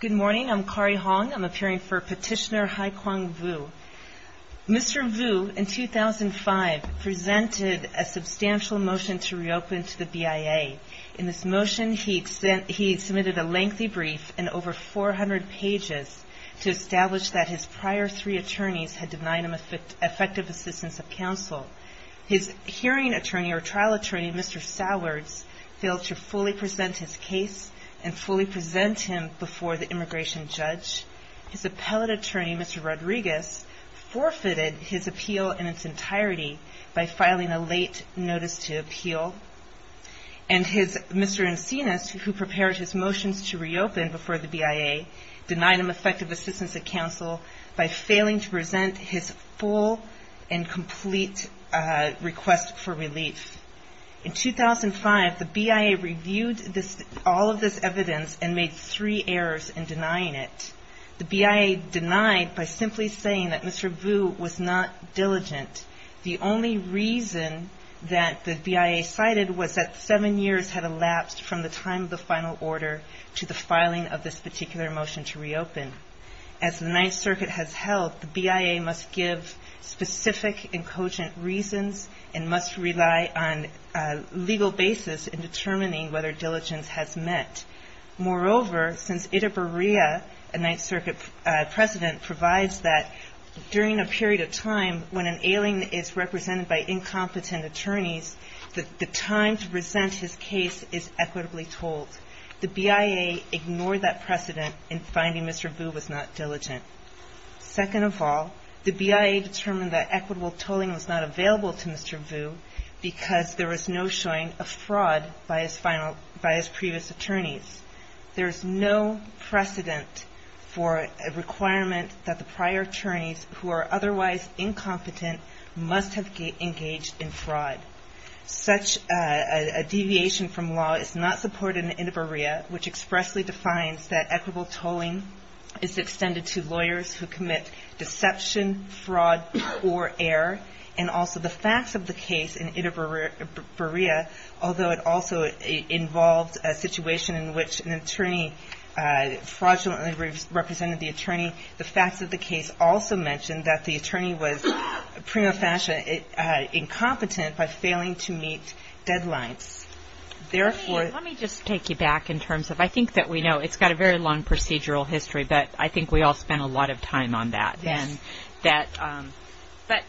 Good morning. I'm Kari Hong. I'm appearing for Petitioner Haikwang VU. Mr. VU, in 2005, presented a substantial motion to reopen to the BIA. In this motion, he submitted a lengthy brief and over 400 pages to establish that his prior three attorneys had denied him effective assistance of counsel. His hearing attorney, or trial attorney, Mr. Sowers, failed to fully present his case and fully present him before the immigration judge. His appellate attorney, Mr. Rodriguez, forfeited his appeal in its entirety by filing a late notice to appeal. And Mr. Encinas, who prepared his motions to reopen before the BIA, denied him effective assistance of counsel by failing to present his full and complete request for relief. In 2005, the BIA reviewed all of this evidence and made three errors in denying it. The BIA denied by simply saying that Mr. VU was not diligent. The only reason that the BIA cited was that seven years had elapsed from the time of the final order to the filing of this particular motion to reopen. As the Ninth Circuit has held, the BIA must give specific and cogent reasons and must rely on a legal basis in determining whether diligence has met. Moreover, since Itaberea, a Ninth Circuit president, provides that during a period of time when an alien is represented by incompetent attorneys, the time to present his case is equitably told. The BIA ignored that precedent in finding Mr. VU was not diligent. Second of all, the BIA determined that equitable tolling was not available to Mr. VU because there was no showing of fraud by his previous attorneys. There is no precedent for a requirement that the prior attorneys who are otherwise incompetent must have engaged in fraud. Such a deviation from law is not supported in Itaberea, which expressly defines that equitable tolling is extended to lawyers who commit deception, fraud, or error. And also the facts of the case in Itaberea, although it also involved a situation in which an attorney fraudulently represented the attorney, the facts of the case also mention that the attorney was prima facie incompetent by failing to meet deadlines. Let me just take you back in terms of, I think that we know, it's got a very long procedural history, but I think we all spent a lot of time on that. But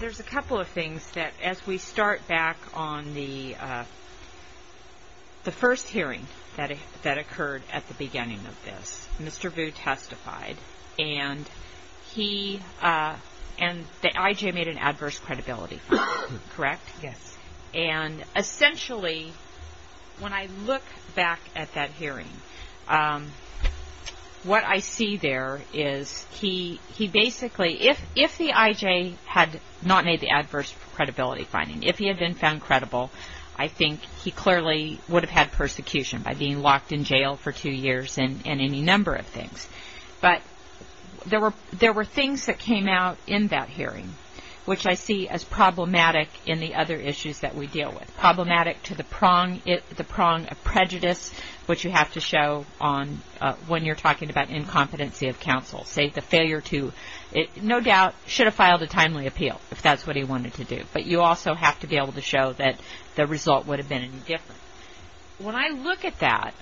there's a couple of things that, as we start back on the first hearing that occurred at the beginning of this, Mr. VU testified, and the IJ made an adverse credibility finding, correct? Yes. And essentially, when I look back at that hearing, what I see there is he basically, if the IJ had not made the adverse credibility finding, if he had been found credible, I think he clearly would have had persecution by being locked in jail for two years and any number of things. But there were things that came out in that hearing, which I see as problematic in the other issues that we deal with. Problematic to the prong of prejudice, which you have to show when you're talking about incompetency of counsel. Say the failure to, no doubt, should have filed a timely appeal, if that's what he wanted to do. But you also have to be able to show that the result would have been indifferent. When I look at that,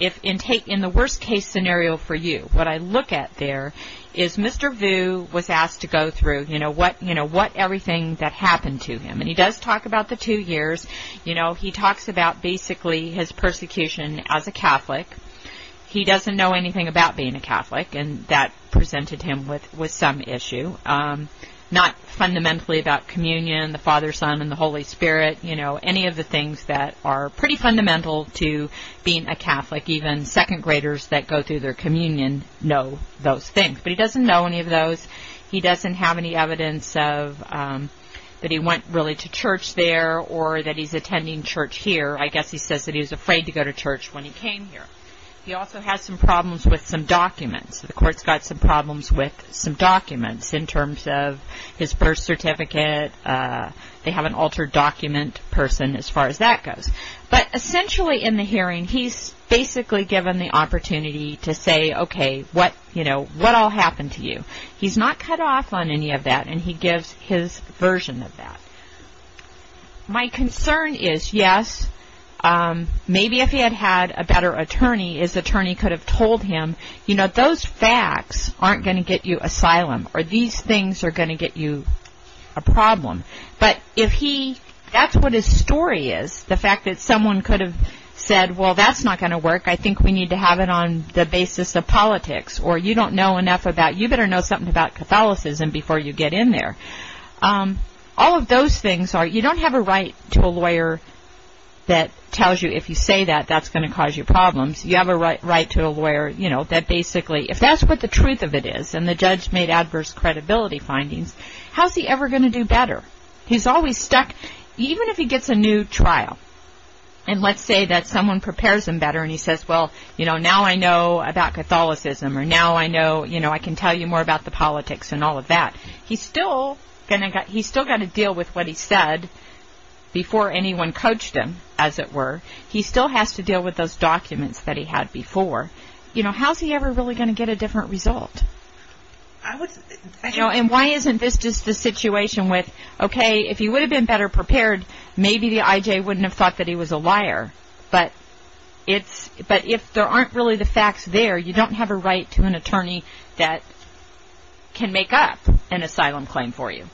in the worst case scenario for you, what I look at there is Mr. VU was asked to go through, you know, what everything that happened to him. And he does talk about the two years. You know, he talks about basically his persecution as a Catholic. He doesn't know anything about being a Catholic, and that presented him with some issue. Not fundamentally about communion, the Father, Son, and the Holy Spirit. You know, any of the things that are pretty fundamental to being a Catholic, even second graders that go through their communion know those things. But he doesn't know any of those. He doesn't have any evidence that he went really to church there or that he's attending church here. I guess he says that he was afraid to go to church when he came here. He also has some problems with some documents. The court's got some problems with some documents in terms of his birth certificate. They have an altered document person as far as that goes. But essentially in the hearing, he's basically given the opportunity to say, okay, what, you know, what all happened to you? He's not cut off on any of that, and he gives his version of that. My concern is, yes, maybe if he had had a better attorney, his attorney could have told him, you know, those facts aren't going to get you asylum, or these things are going to get you a problem. But if he, that's what his story is, the fact that someone could have said, well, that's not going to work. I think we need to have it on the basis of politics, or you don't know enough about, you better know something about Catholicism before you get in there. All of those things are, you don't have a right to a lawyer that tells you if you say that, that's going to cause you problems. You have a right to a lawyer, you know, that basically, if that's what the truth of it is, and the judge made adverse credibility findings, how's he ever going to do better? He's always stuck, even if he gets a new trial, and let's say that someone prepares him better, and he says, well, you know, now I know about Catholicism, or now I know, you know, I can tell you more about the politics and all of that. He's still going to, he's still got to deal with what he said before anyone coached him, as it were. He still has to deal with those documents that he had before. You know, how's he ever really going to get a different result? You know, and why isn't this just a situation with, okay, if he would have been better prepared, maybe the IJ wouldn't have thought that he was a liar, but if there aren't really the facts there, you don't have a right to an attorney that can make up an asylum claim for you.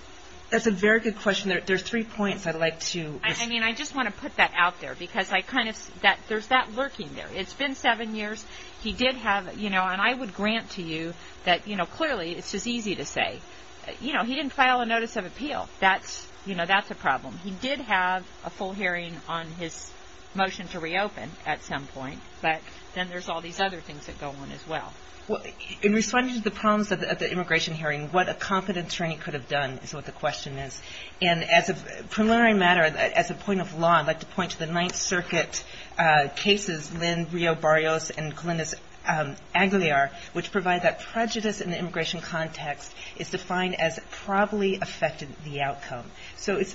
That's a very good question. There's three points I'd like to. I mean, I just want to put that out there because I kind of, there's that lurking there. It's been seven years. He did have, you know, and I would grant to you that, you know, clearly it's just easy to say. You know, he didn't file a notice of appeal. That's, you know, that's a problem. He did have a full hearing on his motion to reopen at some point, but then there's all these other things that go on as well. In response to the problems at the immigration hearing, what a competent attorney could have done is what the question is. And as a preliminary matter, as a point of law, I'd like to point to the Ninth Circuit cases, Lynn Rio Barrios and Glynis Aguilar, which provide that prejudice in the immigration context is defined as probably affected the outcome. So it's,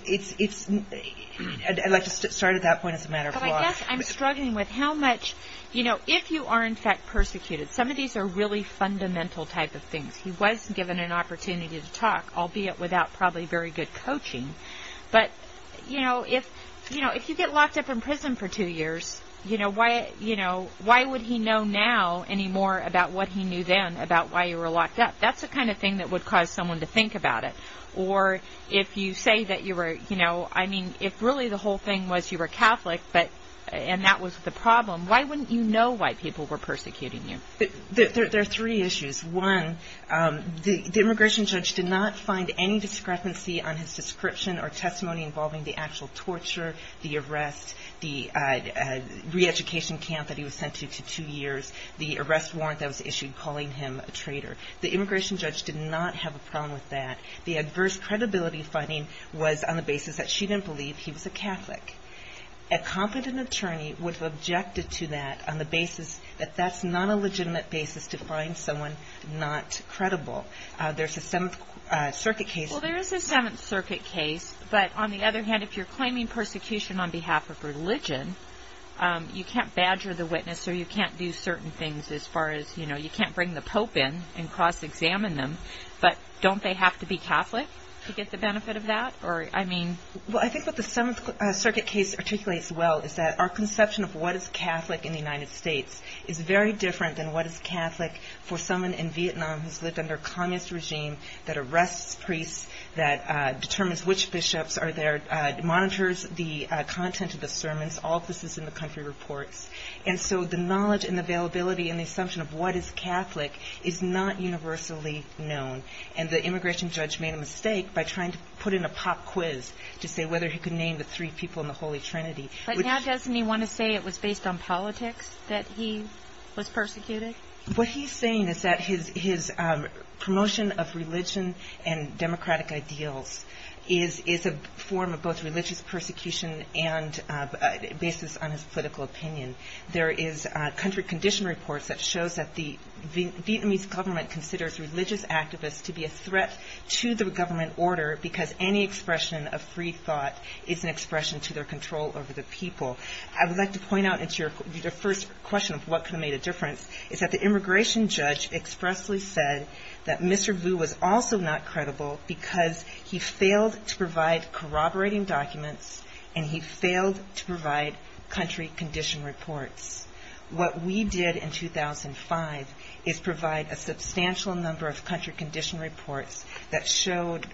I'd like to start at that point as a matter of law. But I guess I'm struggling with how much, you know, if you are in fact persecuted, some of these are really fundamental type of things. He was given an opportunity to talk, albeit without probably very good coaching. But, you know, if you get locked up in prison for two years, you know, why would he know now any more about what he knew then about why you were locked up? That's the kind of thing that would cause someone to think about it. Or if you say that you were, you know, I mean, if really the whole thing was you were Catholic, and that was the problem, why wouldn't you know why people were persecuting you? There are three issues. One, the immigration judge did not find any discrepancy on his description or testimony involving the actual torture, the arrest, the reeducation camp that he was sent to two years, the arrest warrant that was issued calling him a traitor. The immigration judge did not have a problem with that. The adverse credibility finding was on the basis that she didn't believe he was a Catholic. A competent attorney would have objected to that on the basis that that's not a legitimate basis to find someone not credible. There's a Seventh Circuit case. Well, there is a Seventh Circuit case. But on the other hand, if you're claiming persecution on behalf of religion, you can't badger the witness or you can't do certain things as far as, you know, you can't bring the Pope in and cross-examine them. But don't they have to be Catholic to get the benefit of that? Well, I think what the Seventh Circuit case articulates well is that our conception of what is Catholic in the United States is very different than what is Catholic for someone in Vietnam who's lived under a communist regime that arrests priests, that determines which bishops are there, monitors the content of the sermons, all of this is in the country reports. And so the knowledge and availability and the assumption of what is Catholic is not universally known. And the immigration judge made a mistake by trying to put in a pop quiz to say whether he could name the three people in the Holy Trinity. But now doesn't he want to say it was based on politics that he was persecuted? What he's saying is that his promotion of religion and democratic ideals is a form of both religious persecution and a basis on his political opinion. There is country condition reports that shows that the Vietnamese government considers religious activists to be a threat to the government order because any expression of free thought is an expression to their control over the people. I would like to point out the first question of what could have made a difference is that the immigration judge expressly said that Mr. Vu was also not credible because he failed to provide corroborating documents and he failed to provide country condition reports. What we did in 2005 is provide a substantial number of country condition reports that showed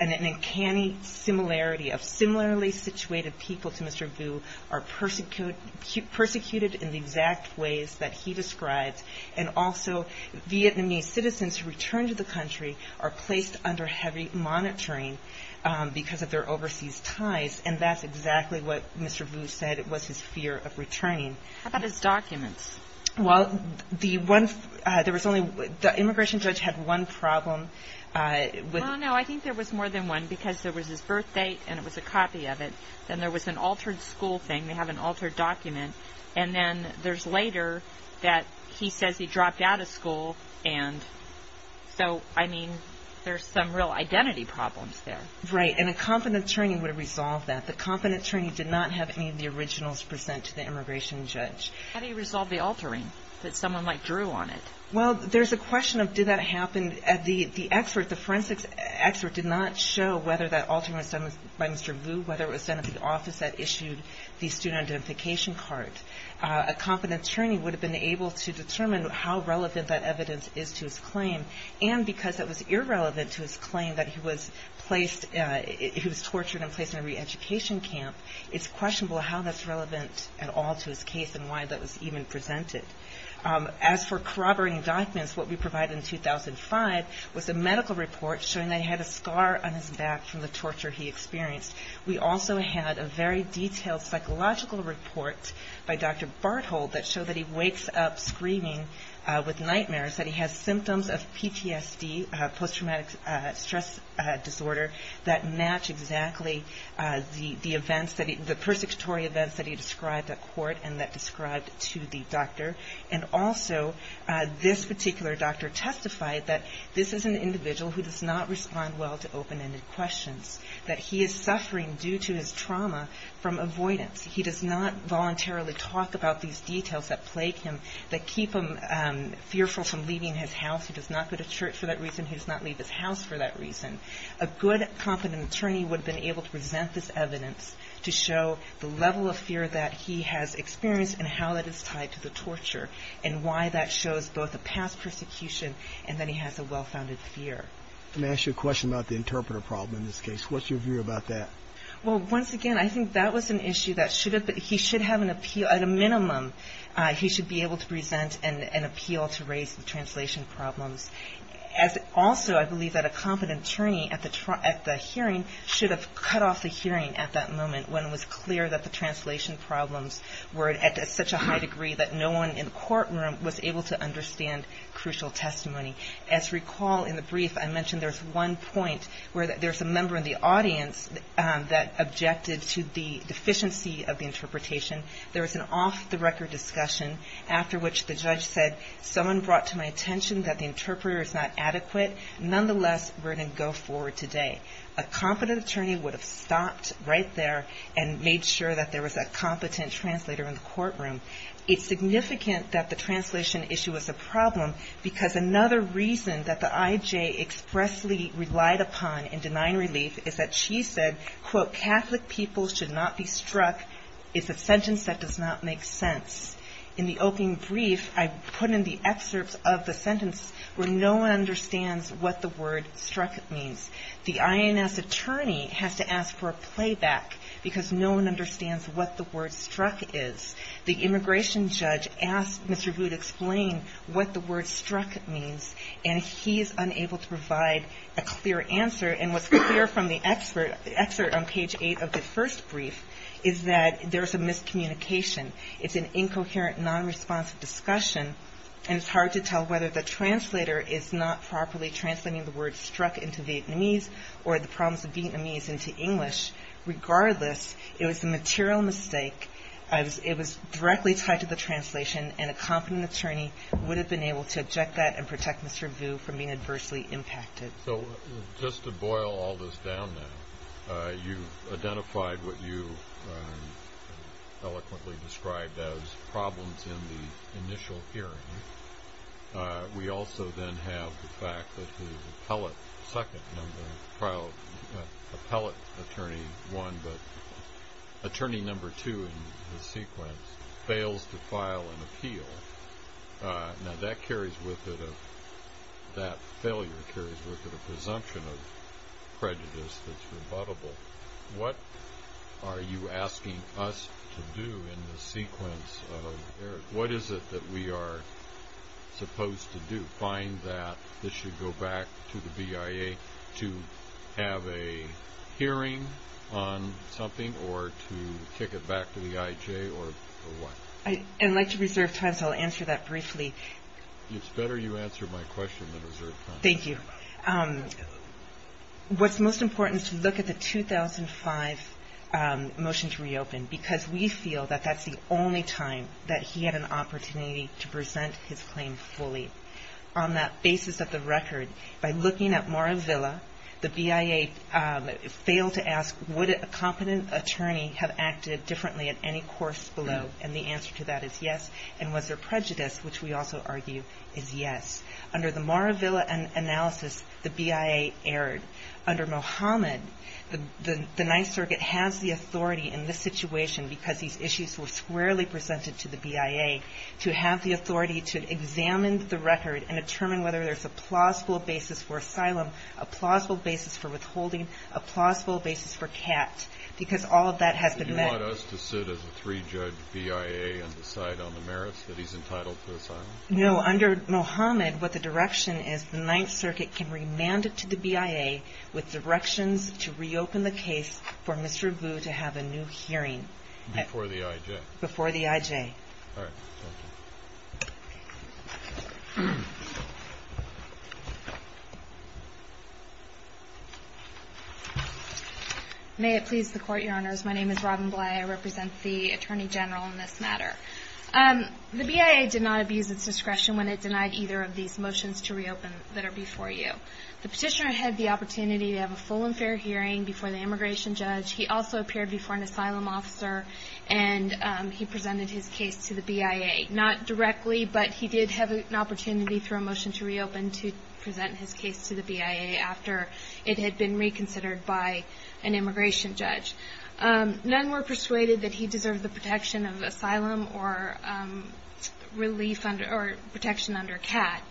an uncanny similarity of similarly situated people to Mr. Vu are persecuted in the exact ways that he describes. And also Vietnamese citizens who return to the country are placed under heavy monitoring because of their overseas ties and that's exactly what Mr. Vu said was his fear of returning. How about his documents? Well, the immigration judge had one problem. No, I think there was more than one because there was his birth date and it was a copy of it. Then there was an altered school thing, they have an altered document. And then there's later that he says he dropped out of school. And so, I mean, there's some real identity problems there. Right, and a competent attorney would have resolved that. The competent attorney did not have any of the originals present to the immigration judge. How do you resolve the altering that someone like drew on it? Well, there's a question of did that happen. The forensic expert did not show whether that altering was done by Mr. Vu, whether it was done at the office that issued the student identification card. A competent attorney would have been able to determine how relevant that evidence is to his claim. And because it was irrelevant to his claim that he was placed, he was tortured and placed in a reeducation camp, it's questionable how that's relevant at all to his case and why that was even presented. As for corroborating documents, what we provided in 2005 was a medical report showing that he had a scar on his back from the torture he experienced. We also had a very detailed psychological report by Dr. Barthold that showed that he wakes up screaming with nightmares, that he has symptoms of PTSD, post-traumatic stress disorder, that match exactly the events, the persecutory events that he described at court and that described to the doctor. And also, this particular doctor testified that this is an individual who does not respond well to open-ended questions, that he is suffering due to his trauma from avoidance. He does not voluntarily talk about these details that plague him, that keep him fearful from leaving his house. He does not go to church for that reason. He does not leave his house for that reason. A good, competent attorney would have been able to present this evidence to show the level of fear that he has experienced and how that is tied to the torture and why that shows both a past persecution and that he has a well-founded fear. Let me ask you a question about the interpreter problem in this case. What's your view about that? Well, once again, I think that was an issue that he should have an appeal. At a minimum, he should be able to present an appeal to raise the translation problems. Also, I believe that a competent attorney at the hearing should have cut off the hearing at that moment when it was clear that the translation problems were at such a high degree that no one in the courtroom was able to understand crucial testimony. As you recall in the brief, I mentioned there's one point where there's a member in the audience that objected to the deficiency of the interpretation. There was an off-the-record discussion after which the judge said, someone brought to my attention that the interpreter is not adequate. Nonetheless, we're going to go forward today. A competent attorney would have stopped right there and made sure that there was a competent translator in the courtroom. It's significant that the translation issue was a problem because another reason that the IJ expressly relied upon in denying relief is that she said, quote, Catholic people should not be struck is a sentence that does not make sense. In the opening brief, I put in the excerpts of the sentence where no one understands what the word struck means. The INS attorney has to ask for a playback because no one understands what the word struck is. The immigration judge asked Mr. Vood to explain what the word struck means and he's unable to provide a clear answer. And what's clear from the excerpt on page 8 of the first brief is that there's a miscommunication. It's an incoherent, nonresponsive discussion. And it's hard to tell whether the translator is not properly translating the word struck into Vietnamese or the problems of Vietnamese into English. Regardless, it was a material mistake. It was directly tied to the translation, and a competent attorney would have been able to object that and protect Mr. Vood from being adversely impacted. So just to boil all this down now, you've identified what you eloquently described as problems in the initial hearing. We also then have the fact that the appellate second number, appellate attorney one, but attorney number two in the sequence, fails to file an appeal. Now that carries with it a, that failure carries with it a presumption of prejudice that's rebuttable. What are you asking us to do in the sequence of errors? What is it that we are supposed to do? To find that this should go back to the BIA to have a hearing on something or to kick it back to the IJ or what? I'd like to reserve time, so I'll answer that briefly. It's better you answer my question than reserve time. Thank you. What's most important is to look at the 2005 motion to reopen, because we feel that that's the only time that he had an opportunity to present his claim fully. On that basis of the record, by looking at Moravilla, the BIA failed to ask would a competent attorney have acted differently at any course below, and the answer to that is yes. And was there prejudice, which we also argue is yes. Under the Moravilla analysis, the BIA erred. Under Mohammed, the Ninth Circuit has the authority in this situation, because these issues were squarely presented to the BIA, to have the authority to examine the record and determine whether there's a plausible basis for asylum, a plausible basis for withholding, a plausible basis for CAT, because all of that has been met. So you want us to sit as a three-judge BIA and decide on the merits that he's entitled to asylum? No. Under Mohammed, what the direction is the Ninth Circuit can remand it to the BIA with directions to reopen the case for Mr. Vu to have a new hearing. Before the IJ. Before the IJ. All right. Thank you. May it please the Court, Your Honors. My name is Robin Bley. I represent the Attorney General in this matter. The BIA did not abuse its discretion when it denied either of these motions to reopen that are before you. The petitioner had the opportunity to have a full and fair hearing before the immigration judge. He also appeared before an asylum officer, and he presented his case to the BIA. Not directly, but he did have an opportunity through a motion to reopen to present his case to the BIA after it had been reconsidered by an immigration judge. None were persuaded that he deserved the protection of asylum or relief or protection under CAT.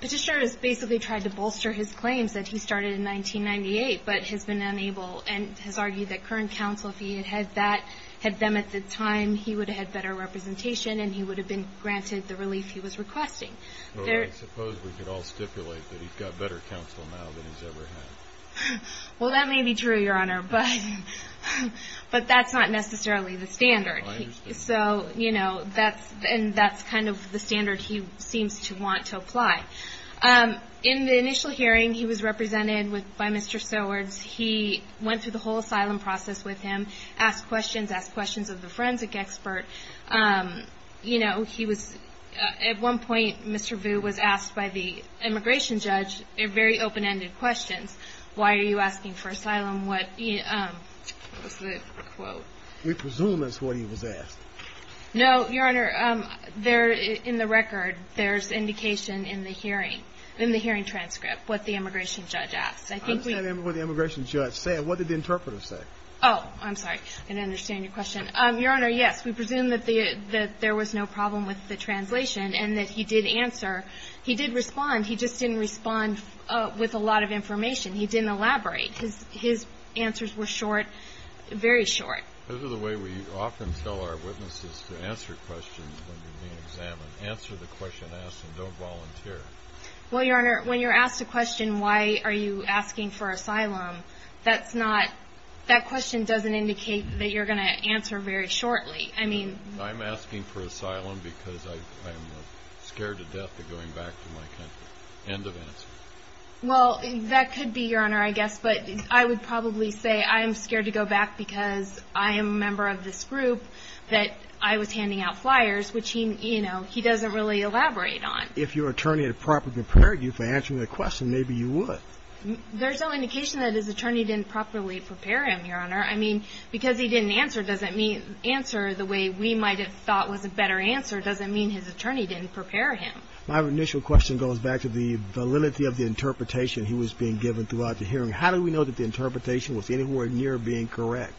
Petitioner has basically tried to bolster his claims that he started in 1998, but has been unable and has argued that current counsel, if he had them at the time, he would have had better representation and he would have been granted the relief he was requesting. Well, I suppose we could all stipulate that he's got better counsel now than he's ever had. Well, that may be true, Your Honor, but that's not necessarily the standard. So, you know, that's kind of the standard he seems to want to apply. In the initial hearing, he was represented by Mr. Sowards. He went through the whole asylum process with him, asked questions, asked questions of the forensic expert. You know, at one point, Mr. Vu was asked by the immigration judge very open-ended questions. Why are you asking for asylum? What was the quote? We presume that's what he was asked. No, Your Honor. In the record, there's indication in the hearing, in the hearing transcript, what the immigration judge asked. I understand what the immigration judge said. What did the interpreter say? Oh, I'm sorry. I didn't understand your question. Your Honor, yes, we presume that there was no problem with the translation and that he did answer. He did respond. He just didn't respond with a lot of information. He didn't elaborate. His answers were short, very short. Those are the way we often tell our witnesses to answer questions when you're being examined. Answer the question asked and don't volunteer. Well, Your Honor, when you're asked a question, why are you asking for asylum, that's not – that question doesn't indicate that you're going to answer very shortly. I'm asking for asylum because I'm scared to death of going back to my country. End of answer. Well, that could be, Your Honor, I guess, but I would probably say I'm scared to go back because I am a member of this group that I was handing out flyers, which he doesn't really elaborate on. If your attorney had properly prepared you for answering the question, maybe you would. Your Honor, I mean, because he didn't answer doesn't mean answer the way we might have thought was a better answer doesn't mean his attorney didn't prepare him. My initial question goes back to the validity of the interpretation he was being given throughout the hearing. How do we know that the interpretation was anywhere near being correct?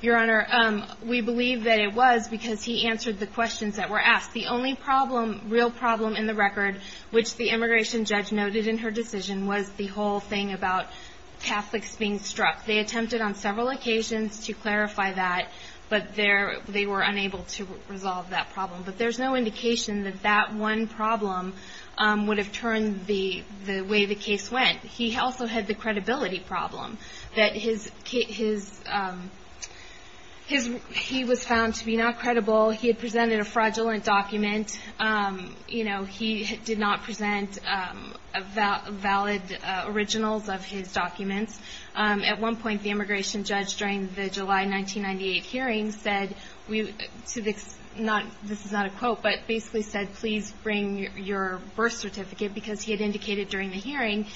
Your Honor, we believe that it was because he answered the questions that were asked. The only problem, real problem in the record, which the immigration judge noted in her decision was the whole thing about Catholics being struck. They attempted on several occasions to clarify that, but they were unable to resolve that problem. But there's no indication that that one problem would have turned the way the case went. He also had the credibility problem. He was found to be not credible. He had presented a fraudulent document. He did not present valid originals of his documents. At one point, the immigration judge during the July 1998 hearing said, this is not a quote, but basically said please bring your birth certificate because he had indicated during the hearing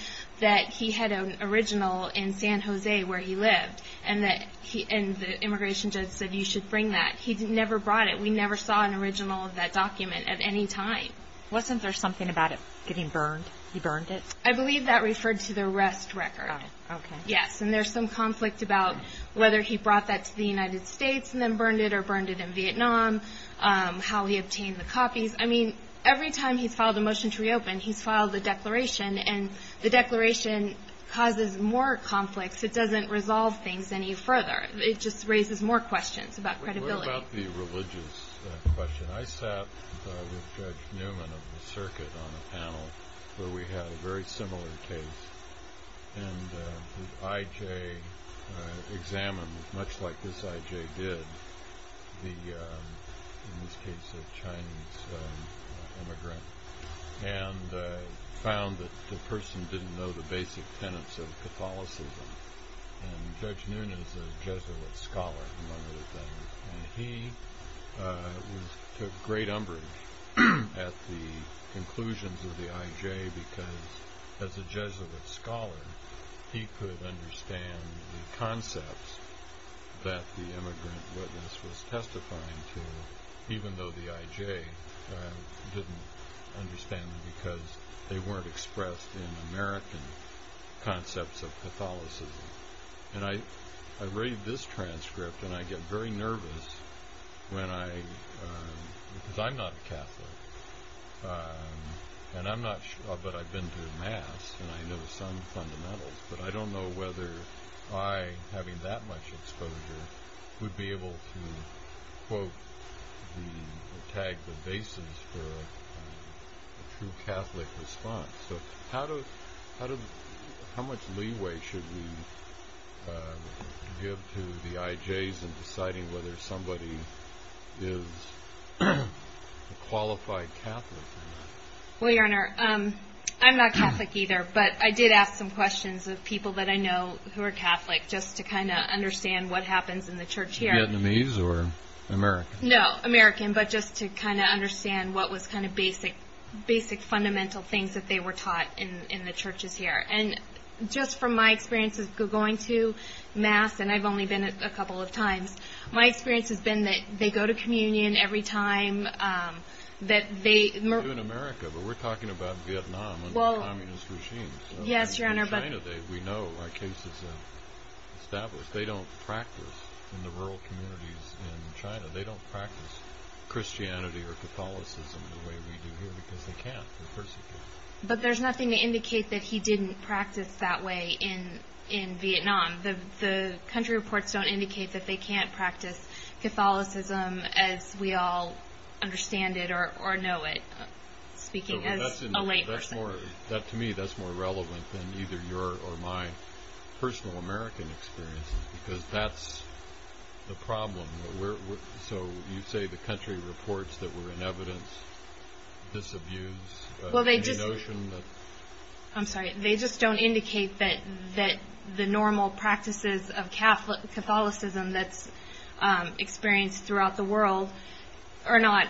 that he had an original in San Jose where he lived, and the immigration judge said you should bring that. He never brought it. We never saw an original of that document at any time. Wasn't there something about it getting burned? He burned it? I believe that referred to the arrest record. Okay. Yes, and there's some conflict about whether he brought that to the United States and then burned it or burned it in Vietnam, how he obtained the copies. I mean, every time he's filed a motion to reopen, he's filed a declaration, and the declaration causes more conflicts. It doesn't resolve things any further. It just raises more questions about credibility. What about the religious question? I sat with Judge Newman of the circuit on a panel where we had a very similar case, and the I.J. examined, much like this I.J. did, in this case a Chinese immigrant, and found that the person didn't know the basic tenets of Catholicism, and Judge Newman is a Jesuit scholar among other things, and he took great umbrage at the conclusions of the I.J. because, as a Jesuit scholar, he could understand the concepts that the immigrant witness was testifying to, even though the I.J. didn't understand them because they weren't expressed in American concepts of Catholicism. And I read this transcript, and I get very nervous because I'm not a Catholic, but I've been to Mass, and I know some fundamentals, but I don't know whether I, having that much exposure, would be able to quote or tag the basis for a true Catholic response. So how much leeway should we give to the I.J.'s in deciding whether somebody is a qualified Catholic? Well, Your Honor, I'm not Catholic either, but I did ask some questions of people that I know who are Catholic, just to kind of understand what happens in the Church here. Vietnamese or American? No, American, but just to kind of understand what was kind of basic, fundamental things that they were taught in the Churches here. And just from my experience of going to Mass, and I've only been a couple of times, my experience has been that they go to communion every time that they... We do in America, but we're talking about Vietnam under a communist regime. Yes, Your Honor, but... In China, we know our cases are established. They don't practice in the rural communities in China. They don't practice Christianity or Catholicism the way we do here because they can't, they're persecuted. But there's nothing to indicate that he didn't practice that way in Vietnam. The country reports don't indicate that they can't practice Catholicism as we all understand it or know it, speaking as a lay person. To me, that's more relevant than either your or my personal American experience, because that's the problem. So you say the country reports that were in evidence disabuse the notion that... I'm sorry. They just don't indicate that the normal practices of Catholicism that's experienced throughout the world are not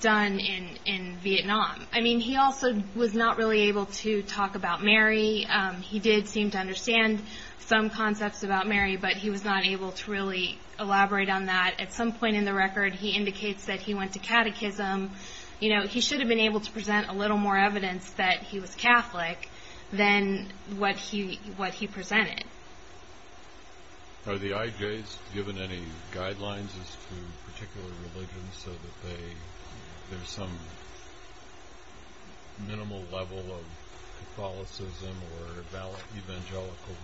done in Vietnam. I mean, he also was not really able to talk about Mary. He did seem to understand some concepts about Mary, but he was not able to really elaborate on that. At some point in the record, he indicates that he went to catechism. He should have been able to present a little more evidence that he was Catholic than what he presented. Are the IJs given any guidelines as to particular religions so that there's some minimal level of Catholicism or evangelical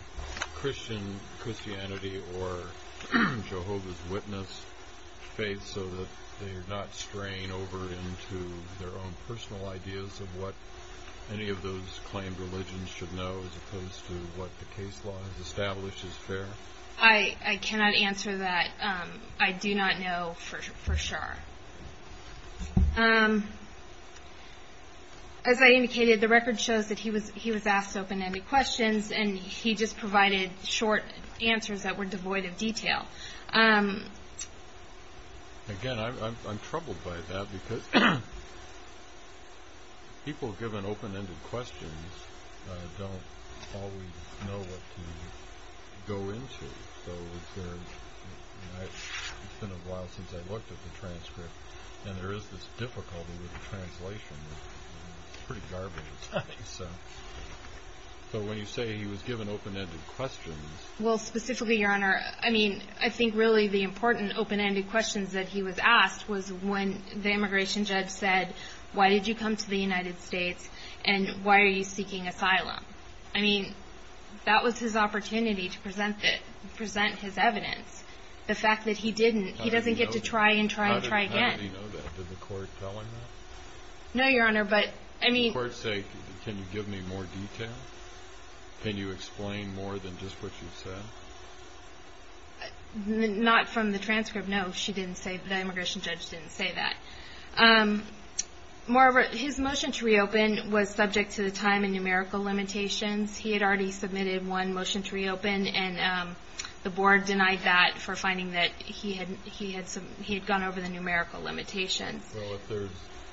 Christianity or Jehovah's Witness faith so that they're not straying over into their own personal ideas of what any of those claimed religions should know as opposed to what the case law has established is fair? I cannot answer that. I do not know for sure. As I indicated, the record shows that he was asked open-ended questions, and he just provided short answers that were devoid of detail. Again, I'm troubled by that because people given open-ended questions don't always know what to go into. It's been a while since I looked at the transcript, and there is this difficulty with the translation. It's pretty garbage. So when you say he was given open-ended questions. Well, specifically, Your Honor, I think really the important open-ended questions that he was asked was when the immigration judge said, why did you come to the United States and why are you seeking asylum? I mean, that was his opportunity to present his evidence. The fact that he didn't, he doesn't get to try and try and try again. How did he know that? Did the court tell him that? No, Your Honor, but I mean. Did the court say, can you give me more detail? Can you explain more than just what you said? Not from the transcript, no. She didn't say, the immigration judge didn't say that. Moreover, his motion to reopen was subject to the time and numerical limitations. He had already submitted one motion to reopen, and the board denied that for finding that he had gone over the numerical limitations. Well, if there's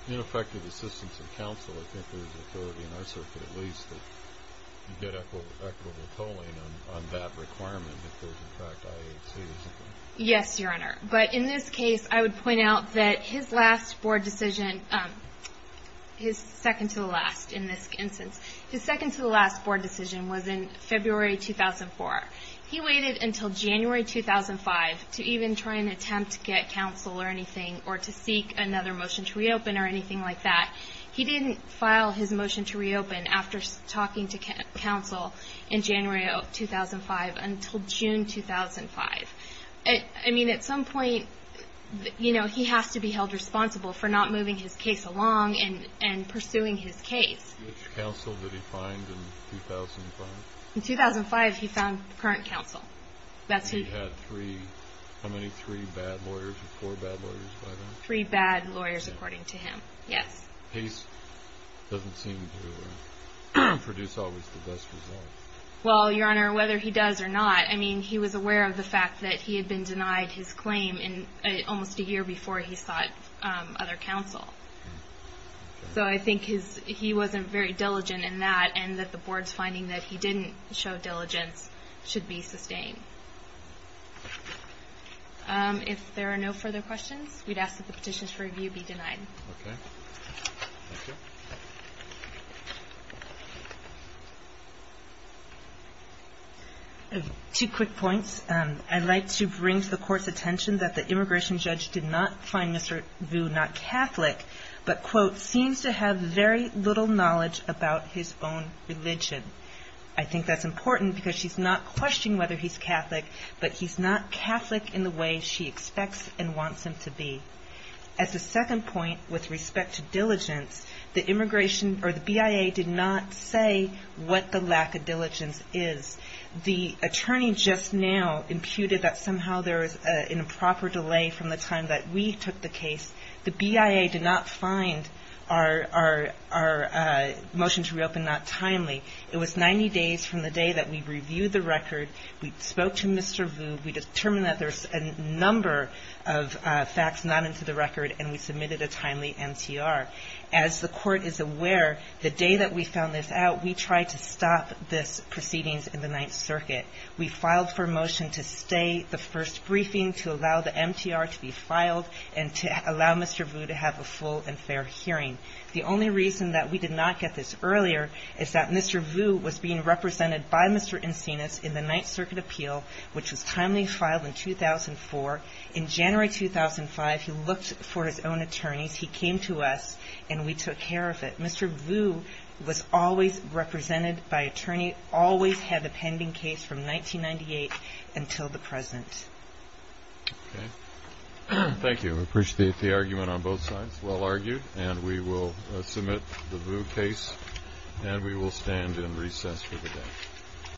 ineffective assistance of counsel, I think there's authority in our circuit at least that you get equitable tolling on that requirement if there's, in fact, IHC or something. Yes, Your Honor. But in this case, I would point out that his last board decision, his second to the last in this instance, his second to the last board decision was in February 2004. He waited until January 2005 to even try and attempt to get counsel or anything or to seek another motion to reopen or anything like that. He didn't file his motion to reopen after talking to counsel in January 2005 until June 2005. I mean, at some point, you know, he has to be held responsible for not moving his case along and pursuing his case. Which counsel did he find in 2005? In 2005, he found current counsel. He had three, how many, three bad lawyers or four bad lawyers by then? Three bad lawyers, according to him, yes. He doesn't seem to produce always the best results. Well, Your Honor, whether he does or not, I mean, he was aware of the fact that he had been denied his claim almost a year before he sought other counsel. So I think he wasn't very diligent in that and that the board's finding that he didn't show diligence should be sustained. If there are no further questions, we'd ask that the petitions for review be denied. Okay. Thank you. Two quick points. I'd like to bring to the Court's attention that the immigration judge did not find Mr. Vu not Catholic, but, quote, seems to have very little knowledge about his own religion. I think that's important because she's not questioning whether he's Catholic, but he's not Catholic in the way she expects and wants him to be. As a second point with respect to diligence, the immigration or the BIA did not say what the lack of diligence is. The attorney just now imputed that somehow there was an improper delay from the time that we took the case. The BIA did not find our motion to reopen not timely. It was 90 days from the day that we reviewed the record. We spoke to Mr. Vu. We determined that there's a number of facts not into the record, and we submitted a timely MTR. As the Court is aware, the day that we found this out, we tried to stop these proceedings in the Ninth Circuit. We filed for a motion to stay the first briefing, to allow the MTR to be filed, and to allow Mr. Vu to have a full and fair hearing. The only reason that we did not get this earlier is that Mr. Vu was being represented by Mr. Encinas in the Ninth Circuit appeal, which was timely filed in 2004. In January 2005, he looked for his own attorneys. He came to us, and we took care of it. Mr. Vu was always represented by attorney, always had a pending case from 1998 until the present. Okay. Thank you. I appreciate the argument on both sides. Well argued, and we will submit the Vu case, and we will stand in recess for the day.